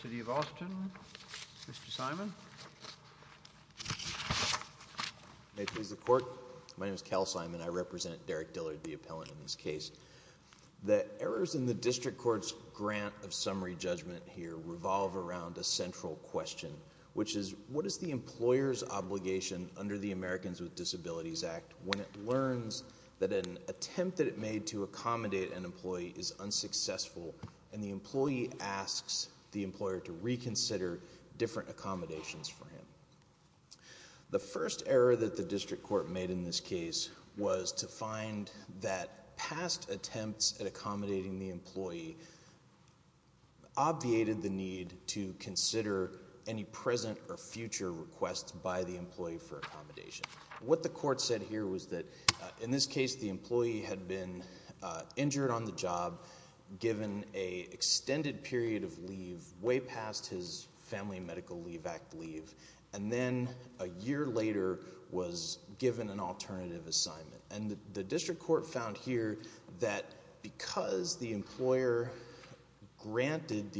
City of Austin, Mr. Simon. May it please the Court, my name is Cal Simon. I represent Derrick Dillard, the appellant in this case. The errors in the District Court's grant of summary judgment here revolve around a central question, which is what is the employer's obligation under the Americans with Disabilities Act when it learns that an attempt that it made to accommodate an employee is unsuccessful and the employee asks the employer to reconsider different accommodations for him. The first error that the District Court made in this case was to find that past attempts at accommodating the employee obviated the need to consider any present or future requests by the employee for accommodation. What the court said here was that in this case the employee had been injured on the job given a extended period of leave way past his Family Medical Leave Act leave and then a year later was given an alternative assignment and the District Court found here that because the employer granted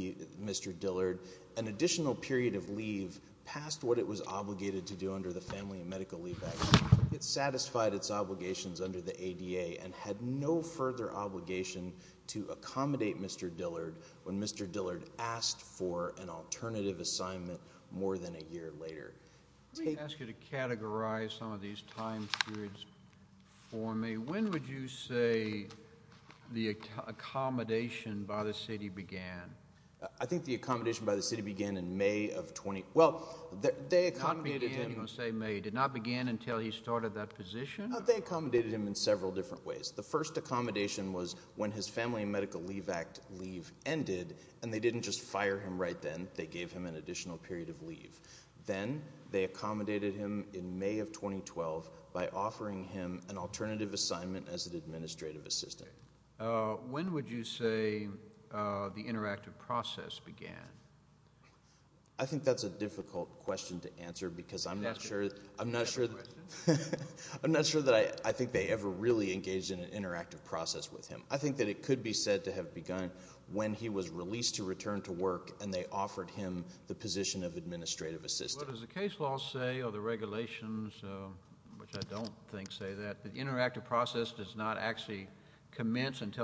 Mr. Dillard an additional period of leave past what it was obligated to do under the Family and Medical Leave Act, it satisfied its obligations under the ADA and had no further obligation to accommodate Mr. Dillard when Mr. Dillard asked for an alternative assignment more than a year later. Let me ask you to categorize some of these time periods for me. When would you say the accommodation by the city began? I think the accommodation by the city began in May of 20, well they accommodated him. You're going to say May. It did not begin until he started that position? They accommodated him in several different ways. The first accommodation was when his Family and Medical Leave Act leave ended and they didn't just fire him right then, they gave him an additional period of leave. Then they accommodated him in May of 2012 by offering him an alternative assignment as an administrative assistant. When would you say the interactive process began? I think that's a difficult question to answer because I'm not sure that I think they ever really engaged in an interactive process with him. I think that it could be said to have begun when he was released to return to work and they offered him the position of administrative assistant. What does the case law say or the regulations, which I don't think say that,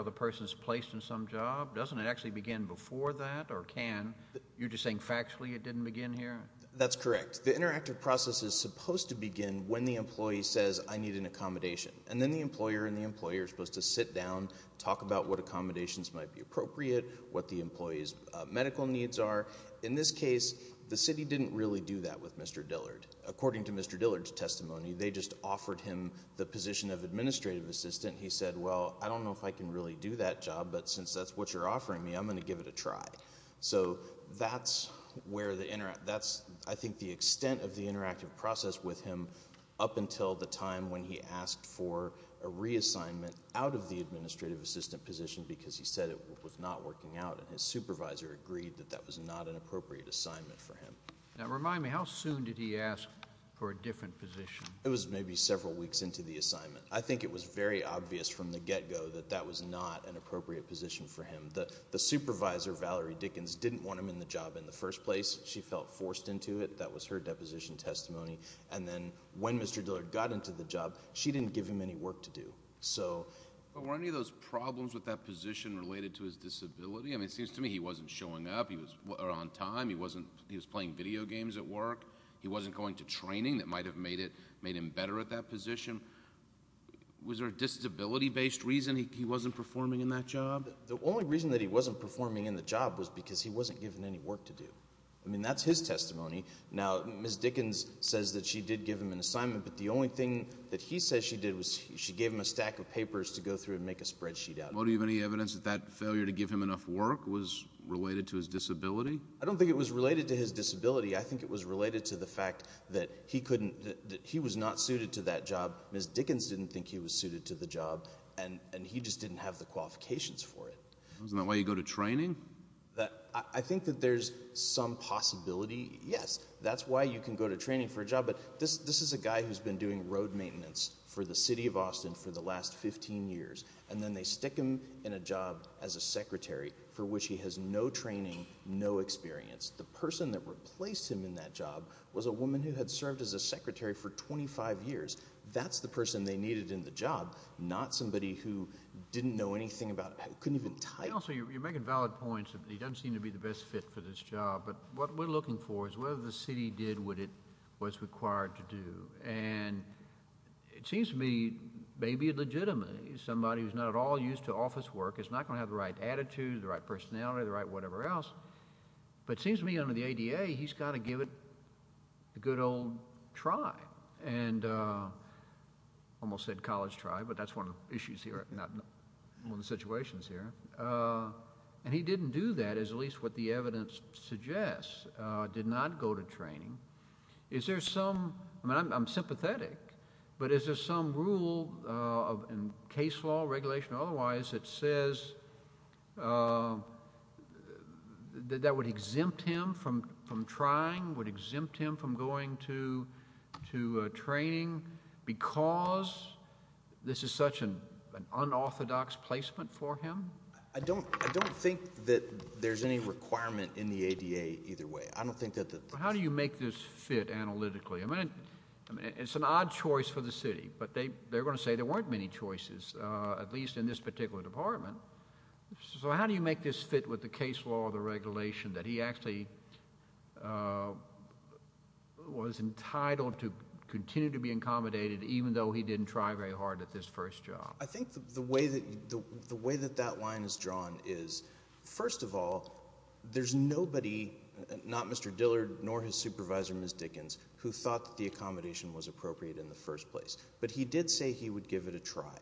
the person is placed in some job? Doesn't it actually begin before that or can? You're just saying factually it didn't begin here? That's correct. The interactive process is supposed to begin when the employee says, I need an accommodation. And then the employer and the employer is supposed to sit down, talk about what accommodations might be appropriate, what the employees medical needs are. In this case the city didn't really do that with Mr. Dillard. According to Mr. Dillard's administrative assistant, he said, well, I don't know if I can really do that job, but since that's what you're offering me, I'm going to give it a try. So that's where the interact, that's I think the extent of the interactive process with him up until the time when he asked for a reassignment out of the administrative assistant position because he said it was not working out and his supervisor agreed that that was not an appropriate assignment for him. Now remind me, how soon did he ask for a different position? It was maybe several weeks into the assignment. I think it was very obvious from the get-go that that was not an appropriate position for him. The supervisor, Valerie Dickens, didn't want him in the job in the first place. She felt forced into it. That was her deposition testimony. And then when Mr. Dillard got into the job, she didn't give him any work to do. But were any of those problems with that position related to his disability? I mean, it seems to me he wasn't showing up. He was on time. He was playing video games at work. He wasn't going to training that might have made him better at that position. Was there a disability-based reason he wasn't performing in that job? The only reason that he wasn't performing in the job was because he wasn't given any work to do. I mean, that's his testimony. Now, Ms. Dickens says that she did give him an assignment, but the only thing that he says she did was she gave him a stack of papers to go through and make a spreadsheet out of. Well, do you have any evidence that that failure to give him enough work was related to his disability? I don't think it was related to his disability. I think it was related to the fact that he was not suited to that job. Ms. Dickens didn't think he was suited to the job, and he just didn't have the qualifications for it. Isn't that why you go to training? I think that there's some possibility, yes. That's why you can go to training for a job. But this is a guy who's been doing road maintenance for the city of Austin for the last 15 years, and then they stick him in a job as a secretary for which he has no training, no experience. The person that replaced him in that job was a woman who had served as a secretary for 25 years. That's the person they needed in the job, not somebody who didn't know anything about it, couldn't even type. Also, you're making valid points. He doesn't seem to be the best fit for this job. But what we're looking for is whether the city did what it was required to do. And it seems to me maybe it legitimately. Somebody who's not at all used to office work is not going to have the right attitude, the right personality, the right whatever else. But it seems to me that under the ADA, he's got to give it a good old try. And almost said college try, but that's one of the issues here, not one of the situations here. And he didn't do that, is at least what the evidence suggests, did not go to training. Is there some, I mean, I'm sympathetic, but is there some rule in case law, regulation or otherwise that says that would exempt him from trying, would exempt him from going to training because this is such an unorthodox placement for him? I don't think that there's any requirement in the ADA either way. I don't think that. How do you make this fit analytically? I mean, it's an odd choice for the city, but they're going to say there weren't many choices, at least in this particular department. So how do you make this fit with the case law, the regulation that he actually was entitled to continue to be accommodated even though he didn't try very hard at this first job? I think the way that that line is drawn is, first of all, there's nobody, not Mr. Dillard, nor his supervisor, Ms. Dickens, who thought that the accommodation was appropriate in the first place. But he did say he would give it a try.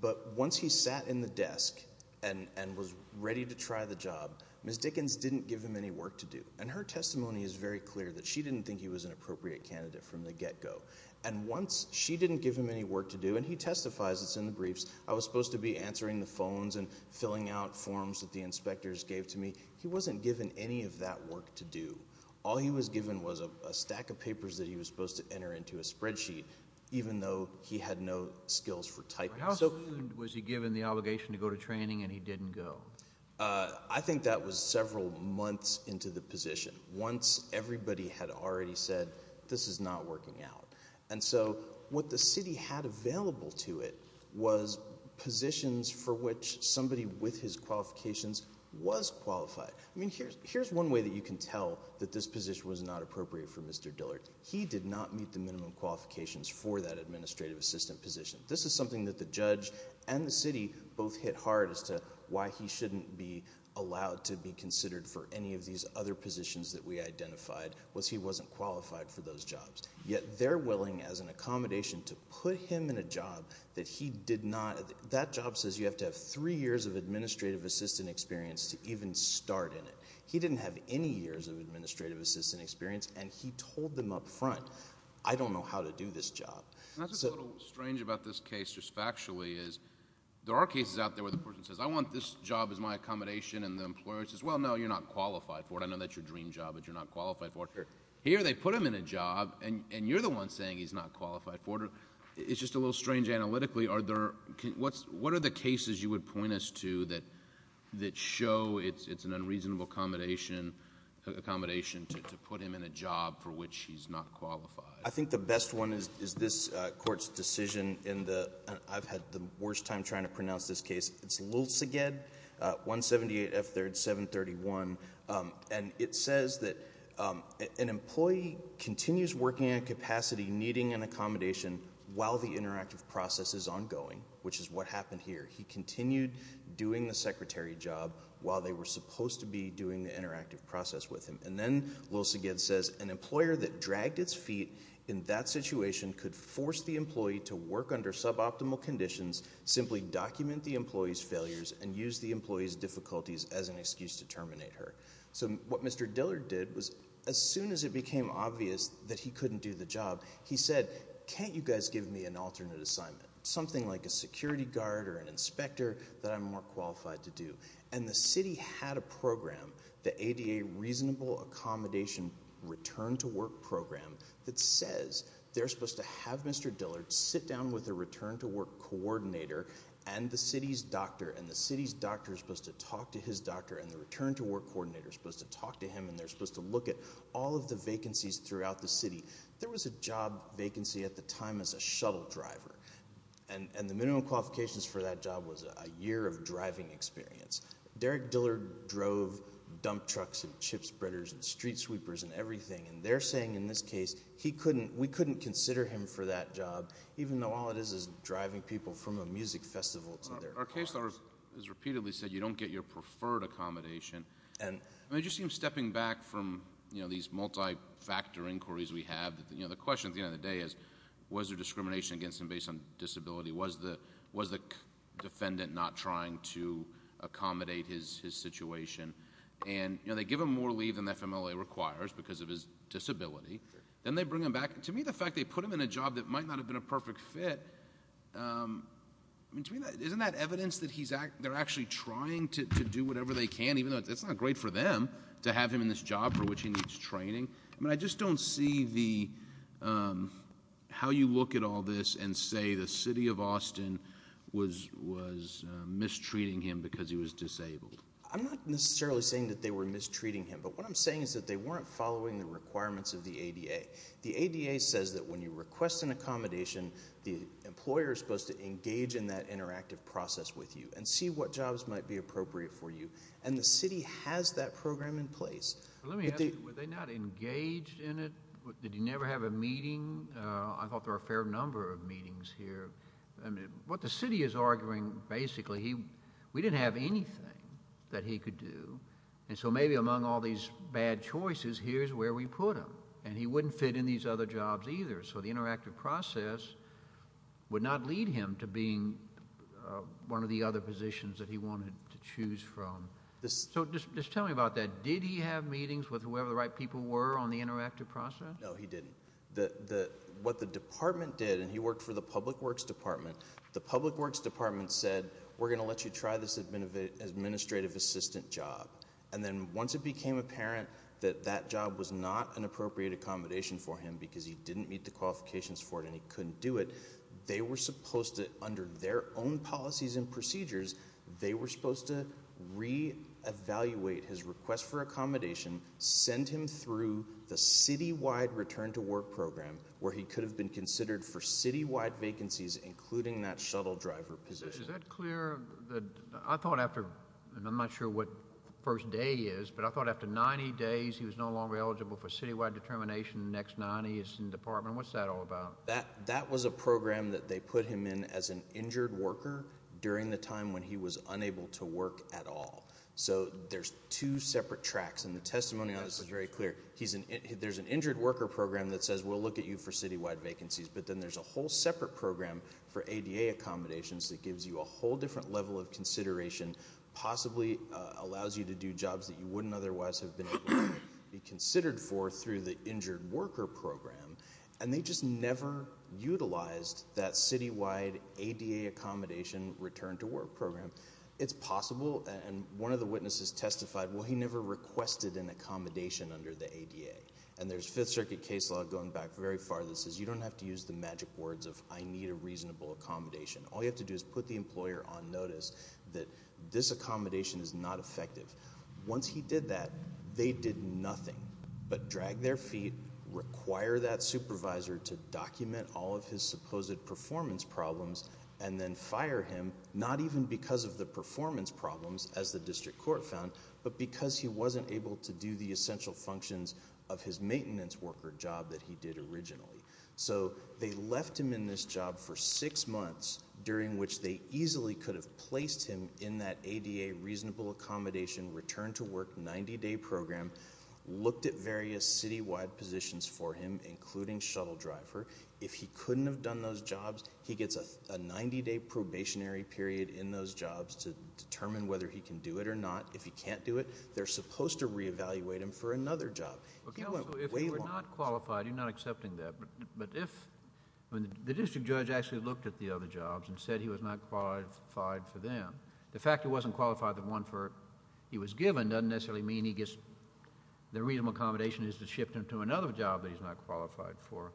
But once he sat in the desk and was ready to try the job, Ms. Dickens didn't give him any work to do. And her testimony is very clear that she didn't think he was an appropriate candidate from the get-go. And once she didn't give him any work to do, and he testifies, it's in the briefs, I was supposed to be answering the phones and filling out forms that the inspectors gave to me. He wasn't given any of that work to do. All he was given was a stack of typing. How soon was he given the obligation to go to training and he didn't go? I think that was several months into the position, once everybody had already said this is not working out. And so what the city had available to it was positions for which somebody with his qualifications was qualified. I mean, here's one way that you can tell that this position was not appropriate for Mr. Dillard. He did not meet the minimum qualifications for that administrative assistant position. This is something that the judge and the city both hit hard as to why he shouldn't be allowed to be considered for any of these other positions that we identified was he wasn't qualified for those jobs. Yet they're willing as an accommodation to put him in a job that he did not, that job says you have to have three years of administrative assistant experience to even start in it. He didn't have any years of administrative assistant experience and he didn't have any years of administrative assistant experience. So I think the best one is this court's decision in the, I've had the worst time trying to pronounce this case, it's Lilseged, 178 F3rd 731. And it says that an employee continues working on capacity needing an accommodation while the interactive process is ongoing, which is what happened here. He continued doing the secretary job while they were supposed to be doing the interactive process with him. And then Lilseged says an employer that dragged its feet in that situation could force the employee to work under suboptimal conditions, simply document the employee's failures and use the employee's difficulties as an excuse to terminate her. So what Mr. Dillard did was as soon as it became obvious that he couldn't do the job, he said can't you guys give me an alternate assignment, something like a security guard or an inspector that I'm more qualified to do. And the city had a program, the ADA reasonable accommodation return to work program that says they're supposed to have Mr. Dillard sit down with a return to work coordinator and the city's doctor and the city's doctor is supposed to talk to his doctor and the return to work coordinator is supposed to talk to him and they're supposed to look at all of the vacancies throughout the city. There was a job vacancy at the time as a shuttle driver and the minimum qualifications for that job was a year of driving experience. Derrick Dillard drove dump trucks and chip spreaders and street sweepers and everything and they're saying in this case we couldn't consider him for that job even though all it is is driving people from a music festival to their cars. Our case law has repeatedly said you don't get your preferred accommodation. And it just seems stepping back from these multi-factor inquiries we have, the question at the end of the day is was there discrimination against him based on defendant not trying to accommodate his situation and they give him more leave than the FMLA requires because of his disability, then they bring him back. To me the fact they put him in a job that might not have been a perfect fit, isn't that evidence that they're actually trying to do whatever they can even though it's not great for them to have him in this job for which he needs to be accommodated? I'm not necessarily saying that they were mistreating him but what I'm saying is that they weren't following the requirements of the ADA. The ADA says that when you request an accommodation the employer is supposed to engage in that interactive process with you and see what jobs might be appropriate for you and the city has that program in place. Let me ask you, were they not engaged in it? Did he never have a meeting? I thought there are a fair number of meetings here. What the city is arguing basically, we didn't have anything that he could do and so maybe among all these bad choices here's where we put him and he wouldn't fit in these other jobs either so the interactive process would not lead him to being one of the other positions that he wanted to choose from. So just tell me about that, did he have meetings with whoever the right people were on the interactive process? No he didn't. What the department did, and he worked for the public works department, the public works department said we're going to let you try this administrative assistant job and then once it became apparent that that job was not an appropriate accommodation for him because he didn't meet the qualifications for it and he couldn't do it, they were supposed to under their own policies and procedures, they were supposed to re-evaluate his request for return to work program where he could have been considered for citywide vacancies including that shuttle driver position. Is that clear? I thought after, I'm not sure what first day is, but I thought after 90 days he was no longer eligible for citywide determination, next 90 is in the department, what's that all about? That was a program that they put him in as an injured worker during the time when he was unable to work at all. So there's two separate tracks and the program that says we'll look at you for citywide vacancies, but then there's a whole separate program for ADA accommodations that gives you a whole different level of consideration, possibly allows you to do jobs that you wouldn't otherwise have been be considered for through the injured worker program and they just never utilized that citywide ADA accommodation return to work program. It's possible and one of the witnesses testified well he never requested an accommodation under the ADA and there's fifth circuit case law going back very far that says you don't have to use the magic words of I need a reasonable accommodation. All you have to do is put the employer on notice that this accommodation is not effective. Once he did that they did nothing but drag their feet, require that supervisor to document all of his supposed performance problems and then fire him not even because of the performance problems as the district court found but because he wasn't able to do the essential functions of his maintenance worker job that he did originally. So they left him in this job for six months during which they easily could have placed him in that ADA reasonable accommodation return to work 90-day program, looked at various citywide positions for him including shuttle driver. If he couldn't have done those jobs he gets a 90-day probationary period in those jobs to determine whether he can do it or not. If he can't do it they're supposed to re-evaluate him for another job. If you're not qualified you're not accepting that but if when the district judge actually looked at the other jobs and said he was not qualified for them the fact he wasn't qualified the one for he was given doesn't necessarily mean he gets the reasonable accommodation is to shift him to another job that he's not qualified for.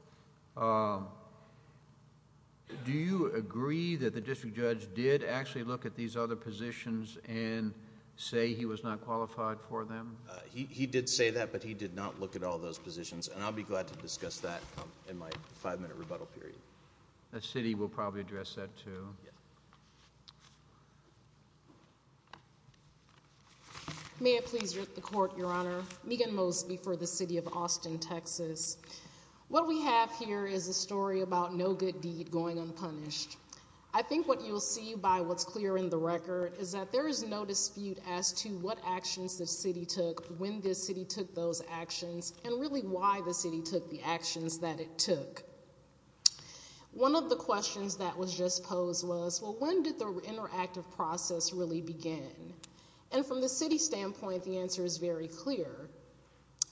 Do you agree that the district judge did actually look at these other positions and say he was not qualified for them? He did say that but he did not look at all those positions and I'll be glad to discuss that in my five-minute rebuttal period. The city will probably address that too. May it please the court, your honor. Megan Mosby for the city of Austin, Texas. What we have here is a story about no good deed going unpunished. I think what you'll see by what's clear in the record is that there is no dispute as to what actions the city took when the city took those actions and really why the city took the actions that it took. One of the questions that was just posed was well when did the interactive process really begin and from the city standpoint the answer is very clear.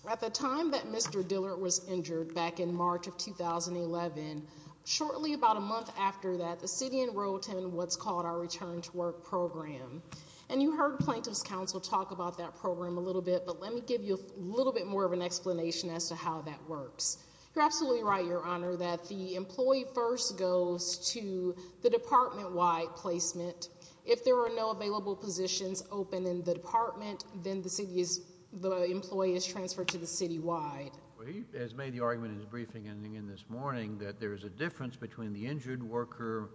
At the time that Mr. Dillard was injured back in March of 2011, shortly about a month after that the city enrolled in what's called our return to work program and you heard plaintiff's counsel talk about that program a little bit but let me give you a little bit more of an explanation as to how that works. You're absolutely right, your honor, that the employee first goes to the department-wide placement. If there are no available positions open in the department then the city is the employee is city-wide. He has made the argument in his briefing ending in this morning that there is a difference between the injured worker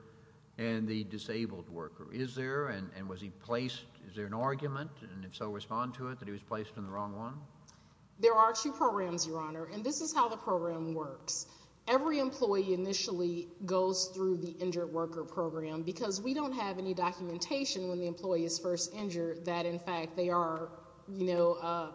and the disabled worker. Is there and was he placed, is there an argument and if so respond to it that he was placed in the wrong one? There are two programs, your honor, and this is how the program works. Every employee initially goes through the injured worker program because we don't have any documentation when the employee is first injured that in fact they are, you know,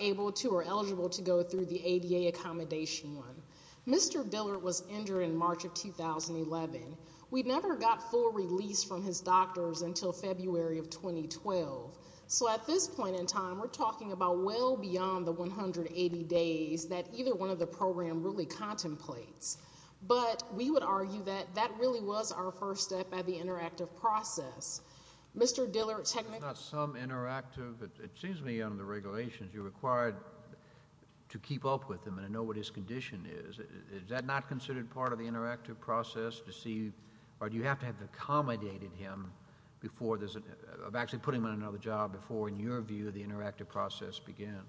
able to or eligible to go through the ADA accommodation one. Mr. Dillard was injured in March of 2011. We never got full release from his doctors until February of 2012. So at this point in time we're talking about well beyond the 180 days that either one of the program really contemplates. But we would argue that that really was our first step at the interactive process. Mr. Dillard technically. It's not some interactive. It seems to me under the regulations you're required to keep up with him and know what his condition is. Is that not considered part of the interactive process to see or do you have to have accommodated him before there's a, of actually putting him in another job before in your view the interactive process begins?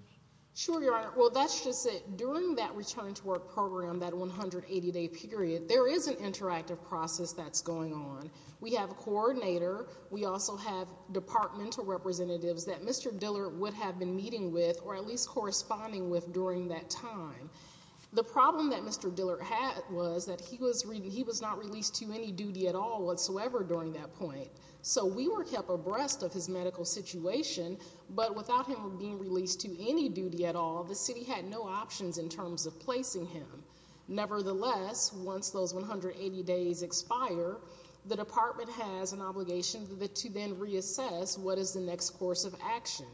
Sure, your honor. Well, that's just it. During that return to work program, that 180-day period, there is an interactive process that's going on. We have a coordinator. We also have departmental representatives that Mr. Dillard would have been meeting with or at least corresponding with during that time. The problem that Mr. Dillard had was that he was not released to any duty at all whatsoever during that point. So we were kept abreast of his medical situation, but without him being released to any duty at all, the city had no options in terms of placing him. Nevertheless, once those 180 days expire, the department has an obligation to then reassess what is the next course of action.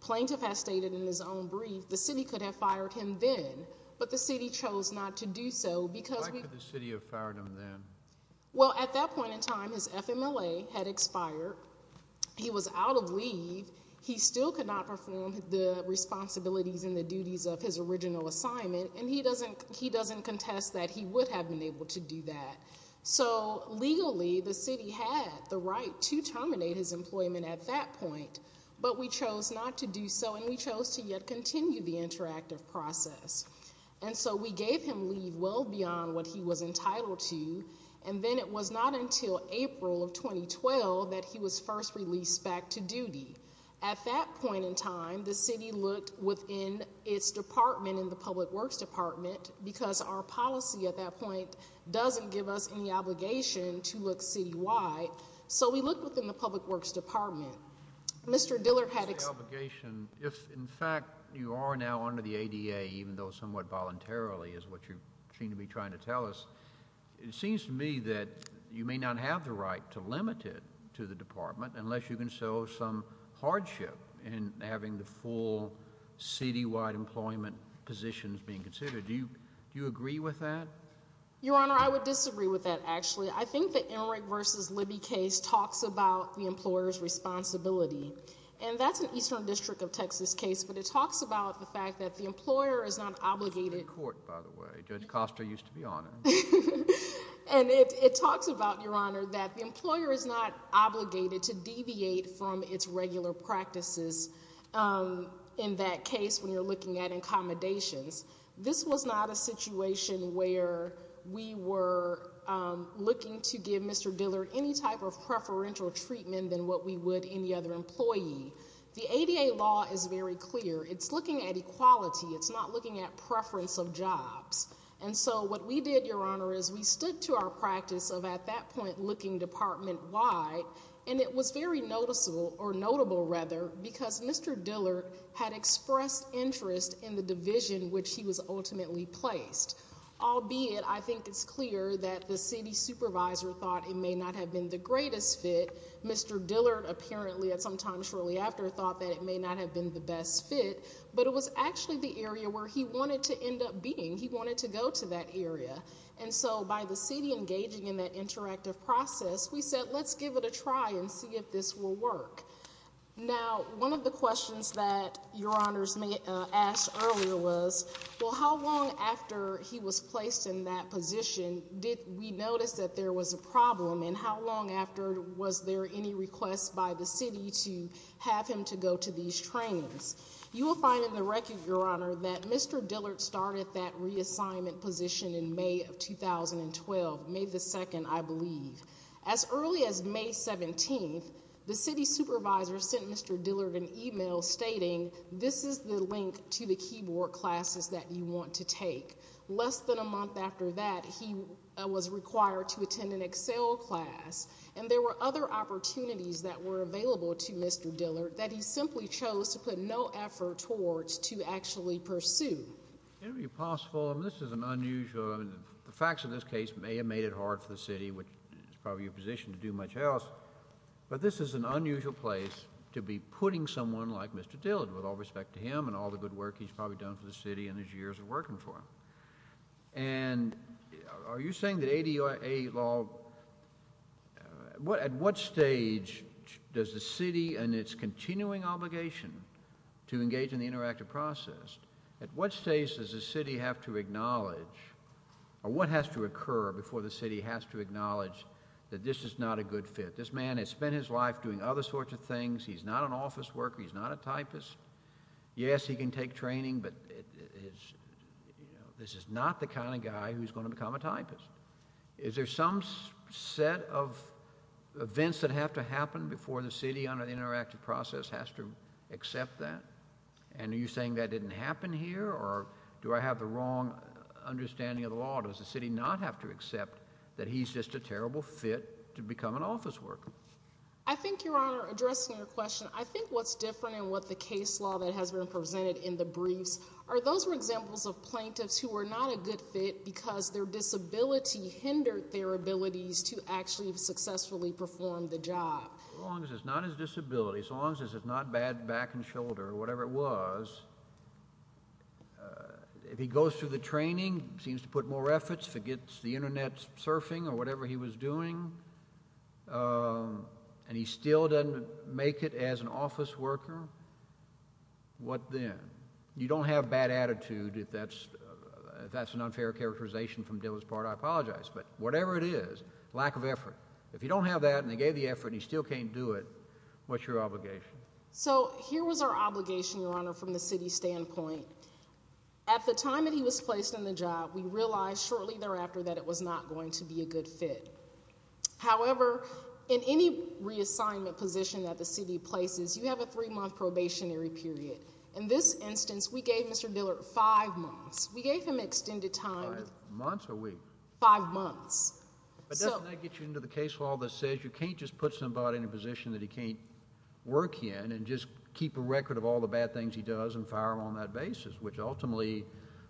Plaintiff has stated in his own brief the city could have fired him then, but the city chose not to do so because... Why could the city have fired him then? Well, at that point in time, his FMLA had expired. He was out of leave. He still could not perform the responsibilities and the duties of his original assignment, and he doesn't contest that he would have been able to do that. So legally, the city had the right to terminate his employment at that point, but we chose not to do so, and we chose to yet continue the interactive process. And so we gave him leave well beyond what he was entitled to, and then it was not until April of 2012 that he was first released back to duty. At that point in time, the city looked within its department in the Public Works Department because our policy at that point doesn't give us any obligation to look citywide, so we looked within the Public Works Department. Mr. Dillard had... If, in fact, you are now under the ADA, even though somewhat voluntarily is what you seem to be trying to tell us, it seems to me that you may not have the right to limit it to the department unless you can show some hardship in having the full citywide employment positions being considered. Do you agree with that? Your Honor, I would disagree with that, actually. I think the Emmerich v. Libby case talks about the employer's responsibility, and that's an Eastern District of Texas case, but it talks about the fact that the employer is not obligated... This was in court, by the way. Judge Costa used to be on it. And it talks about, Your Honor, that the employer is not obligated to deviate from its regular practices in that case when you're looking at accommodations. This was not a situation where we were looking to give Mr. Dillard any type of preferential treatment than what we would any other employee. The ADA law is very clear. It's looking at equality. It's not looking at We stood to our practice of, at that point, looking department-wide, and it was very noticeable, or notable, rather, because Mr. Dillard had expressed interest in the division in which he was ultimately placed. Albeit, I think it's clear that the city supervisor thought it may not have been the greatest fit. Mr. Dillard, apparently, at some time shortly after, thought that it may not have been the best fit. But it was actually the area where he wanted to end up being. He wanted to go to that area. And so, by the city engaging in that interactive process, we said, let's give it a try and see if this will work. Now, one of the questions that Your Honors asked earlier was, well, how long after he was placed in that position did we notice that there was a problem? And how long after was there any request by the city to have him to go these trainings? You will find in the record, Your Honor, that Mr. Dillard started that reassignment position in May of 2012, May the 2nd, I believe. As early as May 17th, the city supervisor sent Mr. Dillard an email stating, this is the link to the keyboard classes that you want to take. Less than a month after that, he was required to attend an Excel class. And there were other cases where he simply chose to put no effort towards to actually pursue. It would be possible. This is an unusual. The facts of this case may have made it hard for the city, which is probably your position to do much else. But this is an unusual place to be putting someone like Mr. Dillard, with all respect to him and all the good work he's probably done for the city and his years of working for him. And are you saying that ADA law, at what stage does the city and its continuing obligation to engage in the interactive process, at what stage does the city have to acknowledge or what has to occur before the city has to acknowledge that this is not a good fit? This man has spent his life doing other sorts of things. He's not an office worker. He's not a typist. Yes, he can take training, but this is not the kind of guy who's going to become a has to accept that? And are you saying that didn't happen here? Or do I have the wrong understanding of the law? Does the city not have to accept that he's just a terrible fit to become an office worker? I think, Your Honor, addressing your question, I think what's different in what the case law that has been presented in the briefs are those were examples of plaintiffs who were not a good fit because their disability hindered their abilities to actually successfully perform the job. As long as it's not his disability, so long as it's not bad back and shoulder, whatever it was, if he goes through the training, seems to put more efforts, forgets the internet surfing or whatever he was doing, and he still doesn't make it as an office worker, what then? You don't have bad attitude if that's an unfair characterization from Dillard's I apologize, but whatever it is, lack of effort. If you don't have that, and they gave the effort, and he still can't do it, what's your obligation? So here was our obligation, Your Honor, from the city's standpoint. At the time that he was placed on the job, we realized shortly thereafter that it was not going to be a good fit. However, in any reassignment position that the city places, you have a three-month probationary period. In this instance, we gave Mr. Dillard five months. We gave him extended time. Five months or a week? Five months. But doesn't that get you into the case law that says you can't just put somebody in a position that he can't work in and just keep a record of all the bad things he does and fire him on that basis, which ultimately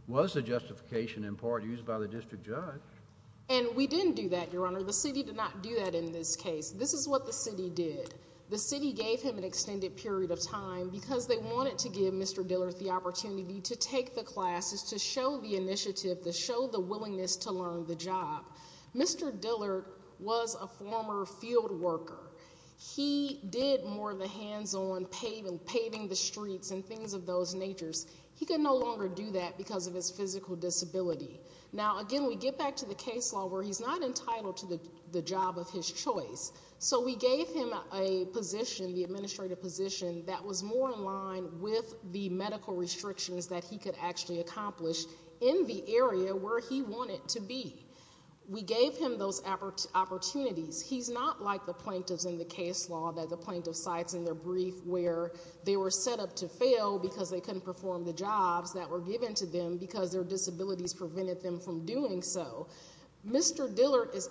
was the justification in part used by the district judge. And we didn't do that, Your Honor. The city did not do that in this case. This is what the city did. The city gave him an extended period of time because they wanted to give Mr. Dillard the opportunity to take the classes, to show the initiative, to show the willingness to learn the job. Mr. Dillard was a former field worker. He did more of the hands-on paving, paving the streets and things of those natures. He could no longer do that because of his physical disability. Now, again, we get back to the case law where he's not entitled to the job of his choice. So we gave him a position, the administrative position, that was more in line with the medical restrictions that he could actually accomplish in the area where he wanted to be. We gave him those opportunities. He's not like the plaintiffs in the case law that the plaintiff cites in their brief where they were set up to fail because they couldn't perform the jobs that were given to them because their disabilities prevented them from doing so. Mr. Dillard is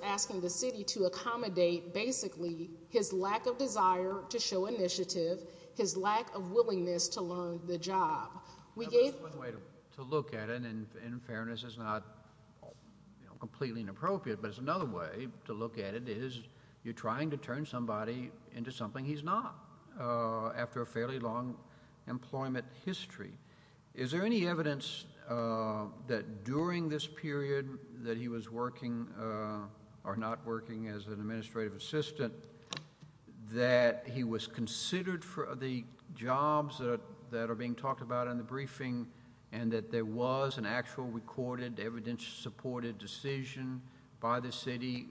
basically his lack of desire to show initiative, his lack of willingness to learn the job. One way to look at it, and in fairness it's not completely inappropriate, but it's another way to look at it is you're trying to turn somebody into something he's not after a fairly long employment history. Is there any evidence that during this period that he was working or not working as an administrative assistant that he was considered for the jobs that are being talked about in the briefing and that there was an actual recorded evidence-supported decision by the city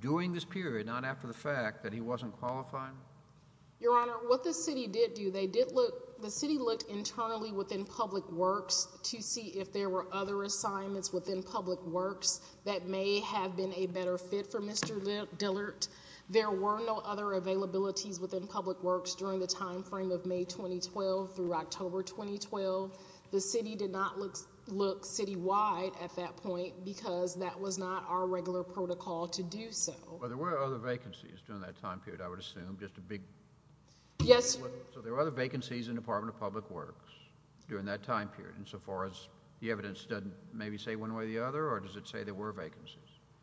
during this period, not after the fact, that he wasn't qualified? Your Honor, what the city did do, they did look, the city looked internally within Public Works to see if there were other assignments within Public Works that may have been a better fit for Mr. Dillard. There were no other availabilities within Public Works during the time frame of May 2012 through October 2012. The city did not look citywide at that point because that was not our regular protocol to do so. But there were other vacancies during that time period, I would assume, just a big... Yes. So there were other vacancies in the Department of Public Works during that time period insofar as the evidence doesn't maybe say one way or the other or does it say there were vacancies?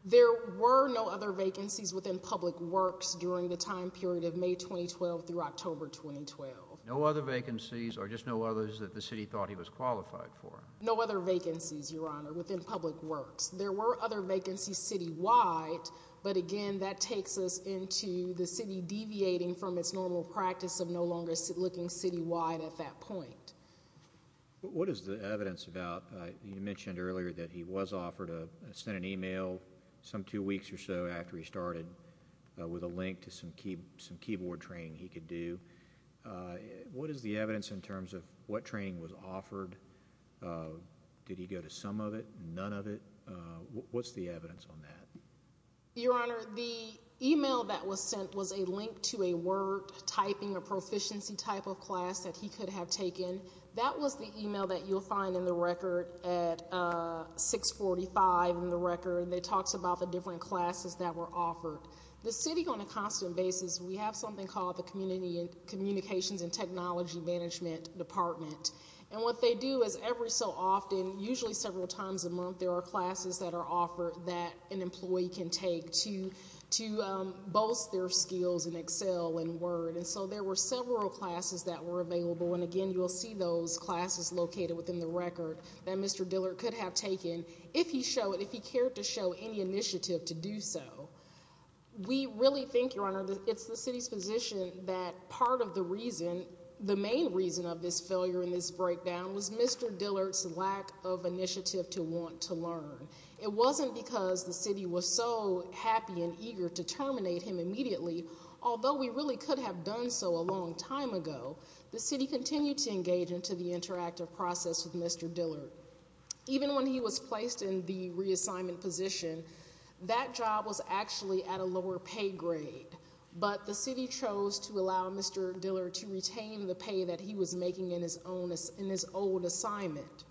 There were no other vacancies within Public Works during the time period of May 2012 through October 2012. No other vacancies or just no others that the city thought he was qualified for? No other vacancies, Your Honor, within Public Works. There were other vacancies citywide, but again, that takes us into the city deviating from its normal practice of no vacancies. What is the evidence about? You mentioned earlier that he was offered a... sent an email some two weeks or so after he started with a link to some keyboard training he could do. What is the evidence in terms of what training was offered? Did he go to some of it? None of it? What's the evidence on that? Your Honor, the email that was sent was a link to a typing or proficiency type of class that he could have taken. That was the email that you'll find in the record at 645 in the record. It talks about the different classes that were offered. The city, on a constant basis, we have something called the Communications and Technology Management Department, and what they do is every so often, usually several times a month, there are classes that are offered that an employee can take to boast their skills in Excel and Word, and so there were several classes that were available, and again, you'll see those classes located within the record that Mr. Dillard could have taken if he showed, if he cared to show any initiative to do so. We really think, Your Honor, it's the city's position that part of the reason, the main reason of this failure in this breakdown was Mr. Dillard's lack of initiative to want to learn. It wasn't because the city was so happy and eager to terminate him immediately, although we really could have done so a long time ago. The city continued to engage into the interactive process with Mr. Dillard. Even when he was placed in the reassignment position, that job was actually at a in his old assignment.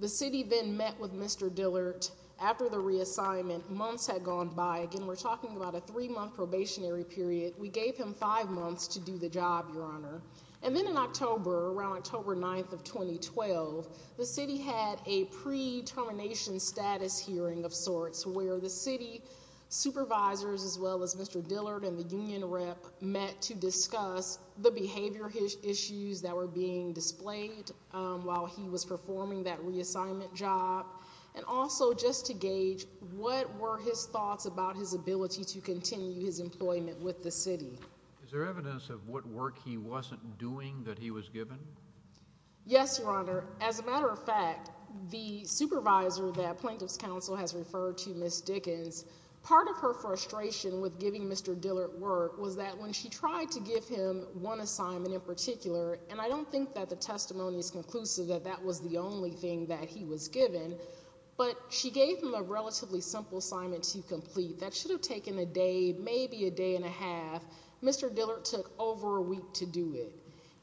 The city then met with Mr. Dillard after the reassignment. Months had gone by. Again, we're talking about a three-month probationary period. We gave him five months to do the job, Your Honor, and then in October, around October 9th of 2012, the city had a pre-termination status hearing of sorts where the city supervisors as well as Mr. Dillard and the union rep met to that were being displayed while he was performing that reassignment job and also just to gauge what were his thoughts about his ability to continue his employment with the city. Is there evidence of what work he wasn't doing that he was given? Yes, Your Honor. As a matter of fact, the supervisor that Plaintiff's Council has referred to, Ms. Dickens, part of her frustration with giving Mr. Dillard work was that when she tried to give him one assignment in particular, and I don't think that the testimony is conclusive that that was the only thing that he was given, but she gave him a relatively simple assignment to complete that should have taken a day, maybe a day and a half. Mr. Dillard took over a week to do it.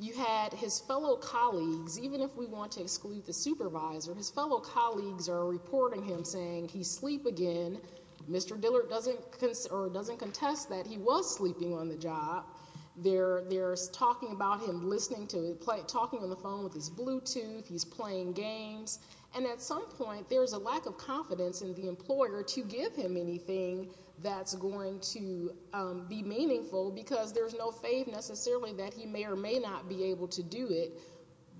You had his fellow colleagues, even if we want to exclude the supervisor, his fellow colleagues are reporting him saying he's asleep again. Mr. Dillard doesn't contest that he was there. They're talking about him listening to him, talking on the phone with his Bluetooth. He's playing games. And at some point, there's a lack of confidence in the employer to give him anything that's going to be meaningful because there's no faith necessarily that he may or may not be able to do it.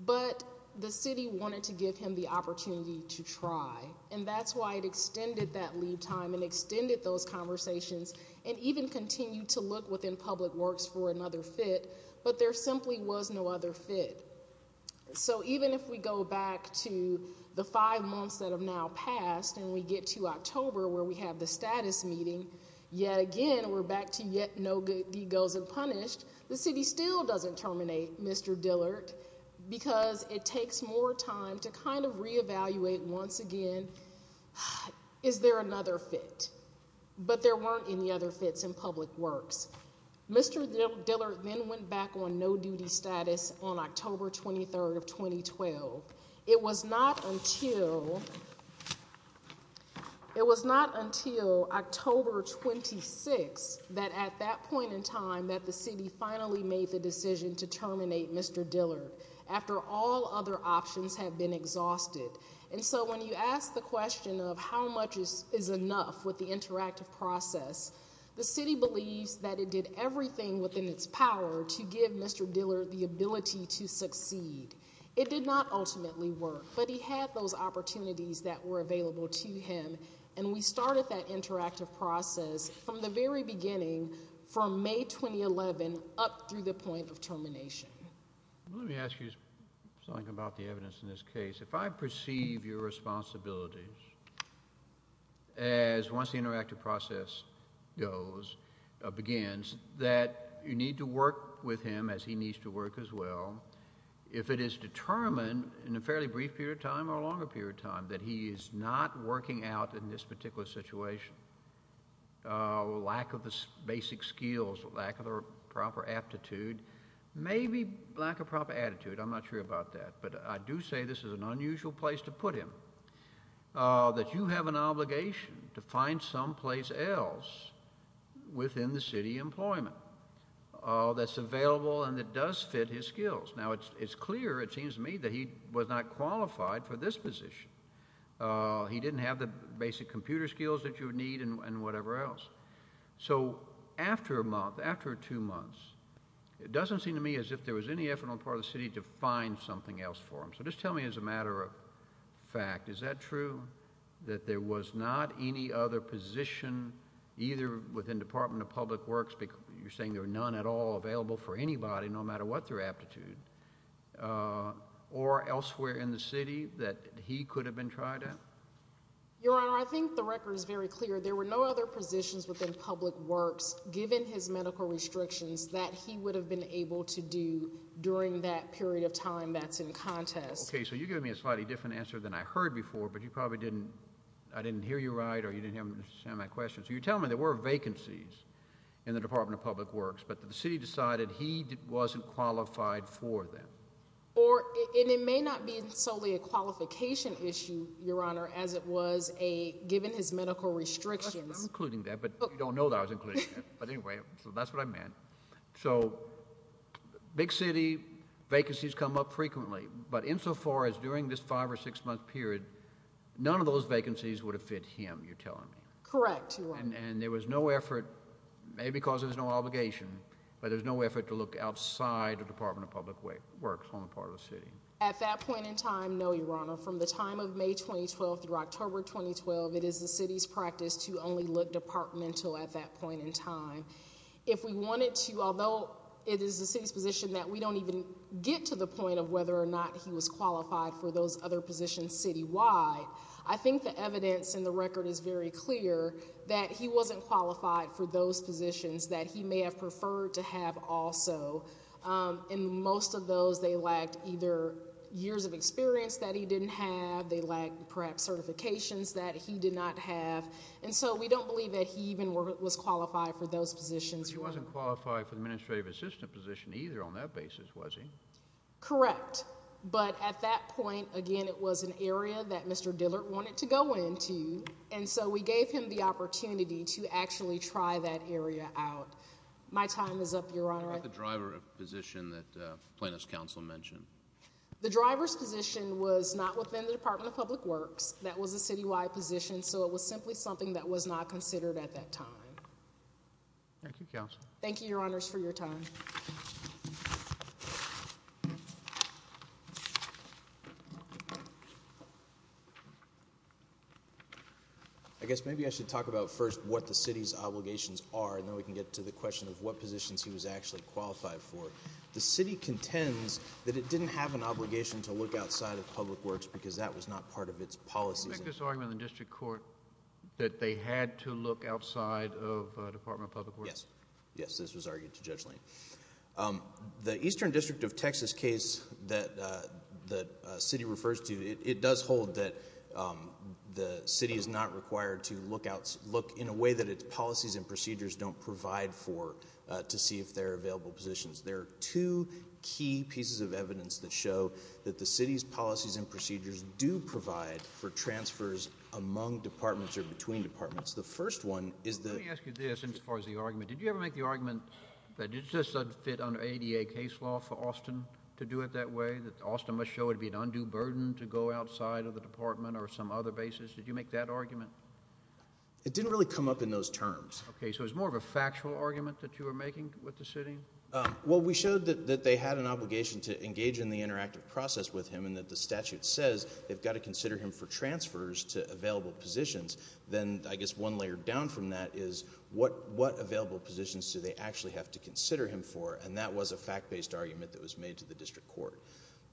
But the city wanted to give him the opportunity to try. And that's why it extended that leave time and extended those conversations and even continued to look within public works for another fit, but there simply was no other fit. So even if we go back to the five months that have now passed and we get to October where we have the status meeting, yet again, we're back to yet no good goes unpunished, the city still doesn't terminate, Mr. Dillard, because it takes more time to kind of reevaluate once again, is there another fit? But there weren't any other fits in public works. Mr. Dillard then went back on no duty status on October 23rd of 2012. It was not until, it was not until October 26th that at that point in time that the city finally made the decision to terminate Mr. Dillard after all other options have been exhausted. And so when you ask the question of how much is enough with the interactive process, the city believes that it did everything within its power to give Mr. Dillard the ability to succeed. It did not ultimately work, but he had those opportunities that were available to him. And we started that interactive process from the very beginning. And I want to ask you something about the evidence in this case. If I perceive your responsibilities as once the interactive process goes, begins, that you need to work with him as he needs to work as well. If it is determined in a fairly brief period of time or a longer period of time that he is not working out in this particular situation, lack of the basic skills, lack of the proper aptitude, maybe lack of proper attitude, I'm not sure about that, but I do say this is an unusual place to put him, that you have an obligation to find someplace else within the city employment that's available and that does fit his skills. Now it's clear, it seems to me, that he was not qualified for this position. He didn't have the basic computer skills that you would need and whatever else. So after a month, after two months, it doesn't seem to me as if there was any effort on the part of the city to find something else for him. So just tell me as a matter of fact, is that true, that there was not any other position either within Department of Public Works, you're saying there were none at all available for anybody, no matter what their aptitude, or elsewhere in the city that he could have been tried at? Your Honor, I think the record is very clear. There were no other positions within Public Works, given his medical restrictions, that he would have been able to do during that period of time that's in contest. Okay, so you're giving me a slightly different answer than I heard before, but you probably didn't, I didn't hear you right or you didn't understand my question. So you're telling me there were vacancies in the Department of Public Works, but the city decided he wasn't qualified for them? Or, and it may not be solely a qualification issue, Your Honor, as it was a given his medical restrictions. I'm including that, but you don't know that I was including it. But anyway, so that's what I meant. So big city vacancies come up frequently, but insofar as during this five or six month period, none of those vacancies would have fit him, you're telling me? Correct, Your Honor. And there was no effort, maybe because there's no obligation, but there's no effort to look outside the Department of Public Works on the part of the city. At that point in time, no, Your Honor, from the time of May 2012 through October 2012, it is the city's practice to only look departmental at that point in time. If we wanted to, although it is the city's position that we don't even get to the point of whether or not he was qualified for those other positions citywide, I think the evidence in the record is very clear that he wasn't qualified for those positions that he may have preferred to also. In most of those, they lacked either years of experience that he didn't have, they lacked perhaps certifications that he did not have. And so we don't believe that he even was qualified for those positions. He wasn't qualified for the administrative assistant position either on that basis, was he? Correct. But at that point, again, it was an area that Mr. Dillard wanted to go into, and so we gave him the opportunity to actually try that area out. My time is up, Your Honor. What about the driver position that Plaintiff's Counsel mentioned? The driver's position was not within the Department of Public Works. That was a citywide position, so it was simply something that was not considered at that time. Thank you, Counsel. Thank you, Your Honors, for your time. I guess maybe I should talk about first what the city's obligations are, and then we can get to the question of what positions he was actually qualified for. The city contends that it didn't have an obligation to look outside of Public Works because that was not part of its policies. I think this argument in the District Court that they had to look outside of Department of Public Works? Yes. Yes, this was argued to Judge Lane. The Eastern District of Texas case that the city refers to, it does hold that the city is not required to look in a way that its policies and procedures don't provide for to see if there are available positions. There are two key pieces of evidence that show that the city's policies and procedures do provide for transfers among departments or between departments. The first one is that... Let me ask you this as far as the argument. Did you ever make the argument that it just doesn't fit under ADA case law for Austin to do it that way, that Austin must show it would be an undue burden to go outside of the department or some other basis? Did you make that argument? It didn't really come up in those terms. Okay, so it was more of a factual argument that you were making with the city? Well, we showed that they had an obligation to engage in the interactive process with him, and that the statute says they've got to consider him for transfers to available positions. Then, I guess, one layer down from that is what available positions do they actually have to consider him for? And that was a fact-based argument that was made to the district court.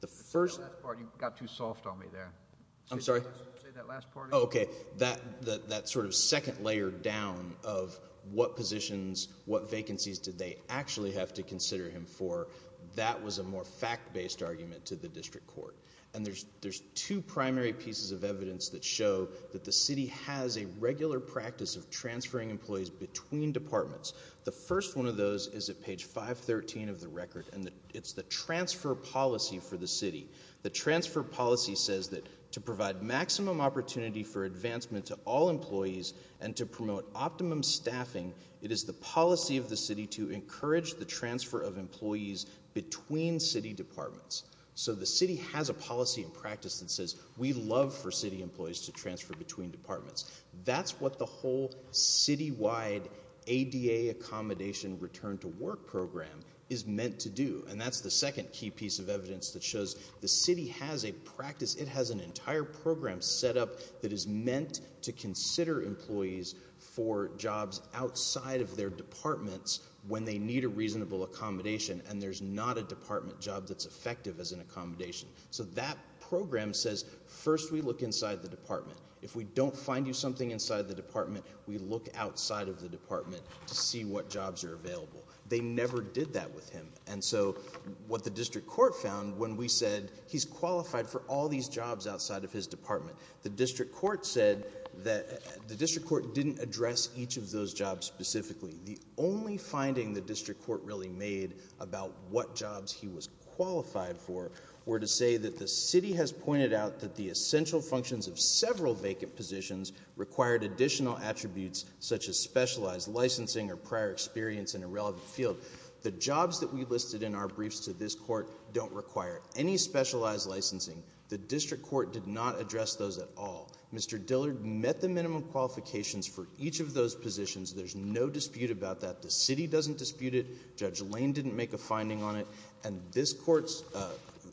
The first... That last part, you got too soft on me there. I'm sorry? Say that last part again. Okay, that sort of second layer down of what positions, what vacancies did they actually have to consider him for? That was a more fact-based argument to the district court. And there's two primary pieces of evidence that show that the city has a regular practice of transferring employees between departments. The first one of those is at page 513 of the record, and it's the transfer policy for the city. The transfer policy says that to provide maximum opportunity for advancement to all employees and to promote optimum staffing, it is the policy of the city to encourage the transfer of employees between city departments. So the city has a policy and practice that says, we love for city employees to transfer between departments. That's what the whole city-wide ADA accommodation return to work program is meant to do. And that's the second key piece of evidence that shows the city has a practice. It has an outside of their departments when they need a reasonable accommodation, and there's not a department job that's effective as an accommodation. So that program says, first we look inside the department. If we don't find you something inside the department, we look outside of the department to see what jobs are available. They never did that with him. And so what the district court found when we said, he's qualified for all these jobs outside of his department. The district court said that the district court didn't address each of those jobs specifically. The only finding the district court really made about what jobs he was qualified for were to say that the city has pointed out that the essential functions of several vacant positions required additional attributes such as specialized licensing or prior experience in a relevant field. The jobs that we listed in our briefs to this court don't require any specialized licensing. The district court did not address those at all. Mr. Dillard met the minimum qualifications for each of those positions. There's no dispute about that. The city doesn't dispute it. Judge Lane didn't make a finding on it. And this court's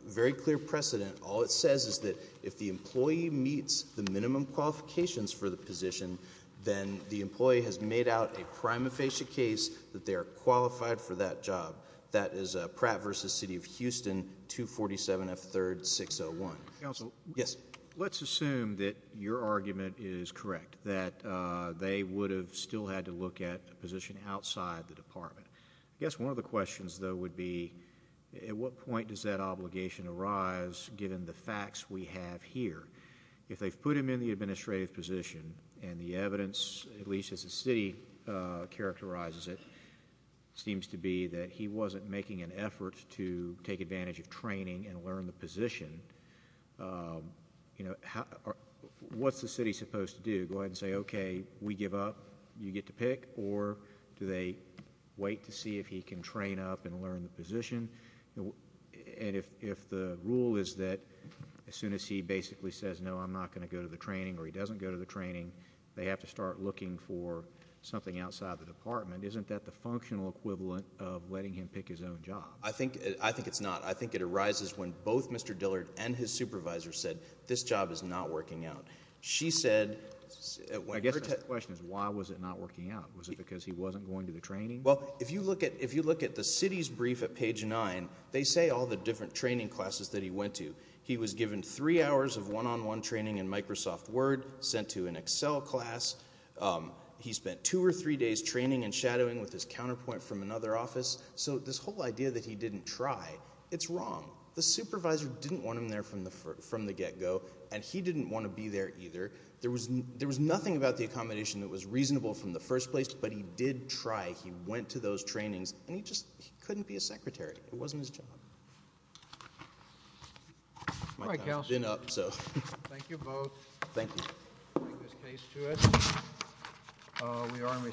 very clear precedent. All it says is that if the employee meets the minimum qualifications for the position, then the employee has made out a prima facie case that they are qualified for that job. That is Pratt v. City of Houston, 247 F. 3rd, 601. Counsel? Yes. Let's assume that your argument is correct, that they would have still had to look at a position outside the department. I guess one of the questions though would be, at what point does that obligation arise given the facts we have here? If they've put him in the administrative position and the evidence, at least as the city characterizes it, seems to be that he wasn't making an effort to take advantage of training and learn the position, what's the city supposed to do? Go ahead and say, okay, we give up, you get to pick? Or do they wait to see if he can train up and learn the position? And if the rule is that as soon as he basically says, no, I'm not going to go to the training or he doesn't go to the training, they have to start looking for something outside the department, isn't that the functional equivalent of letting him pick his own job? I think it's not. I think it arises when both Mr. Dillard and his supervisor said, this job is not working out. She said... I guess my question is, why was it not working out? Was it because he wasn't going to the training? Well, if you look at the city's brief at page nine, they say all the different training classes that he went to. He was given three hours of one-on-one training in Microsoft Word, sent to an Excel class. He spent two or three days training and shadowing with his counterpoint from another office. So this whole idea that he didn't try, it's wrong. The supervisor didn't want him there from the get-go, and he didn't want to be there either. There was nothing about the accommodation that was reasonable from the first place, but he did try. He went to those trainings, and he just couldn't be a secretary. It wasn't his job. All right, Kels. Thank you both. Thank you.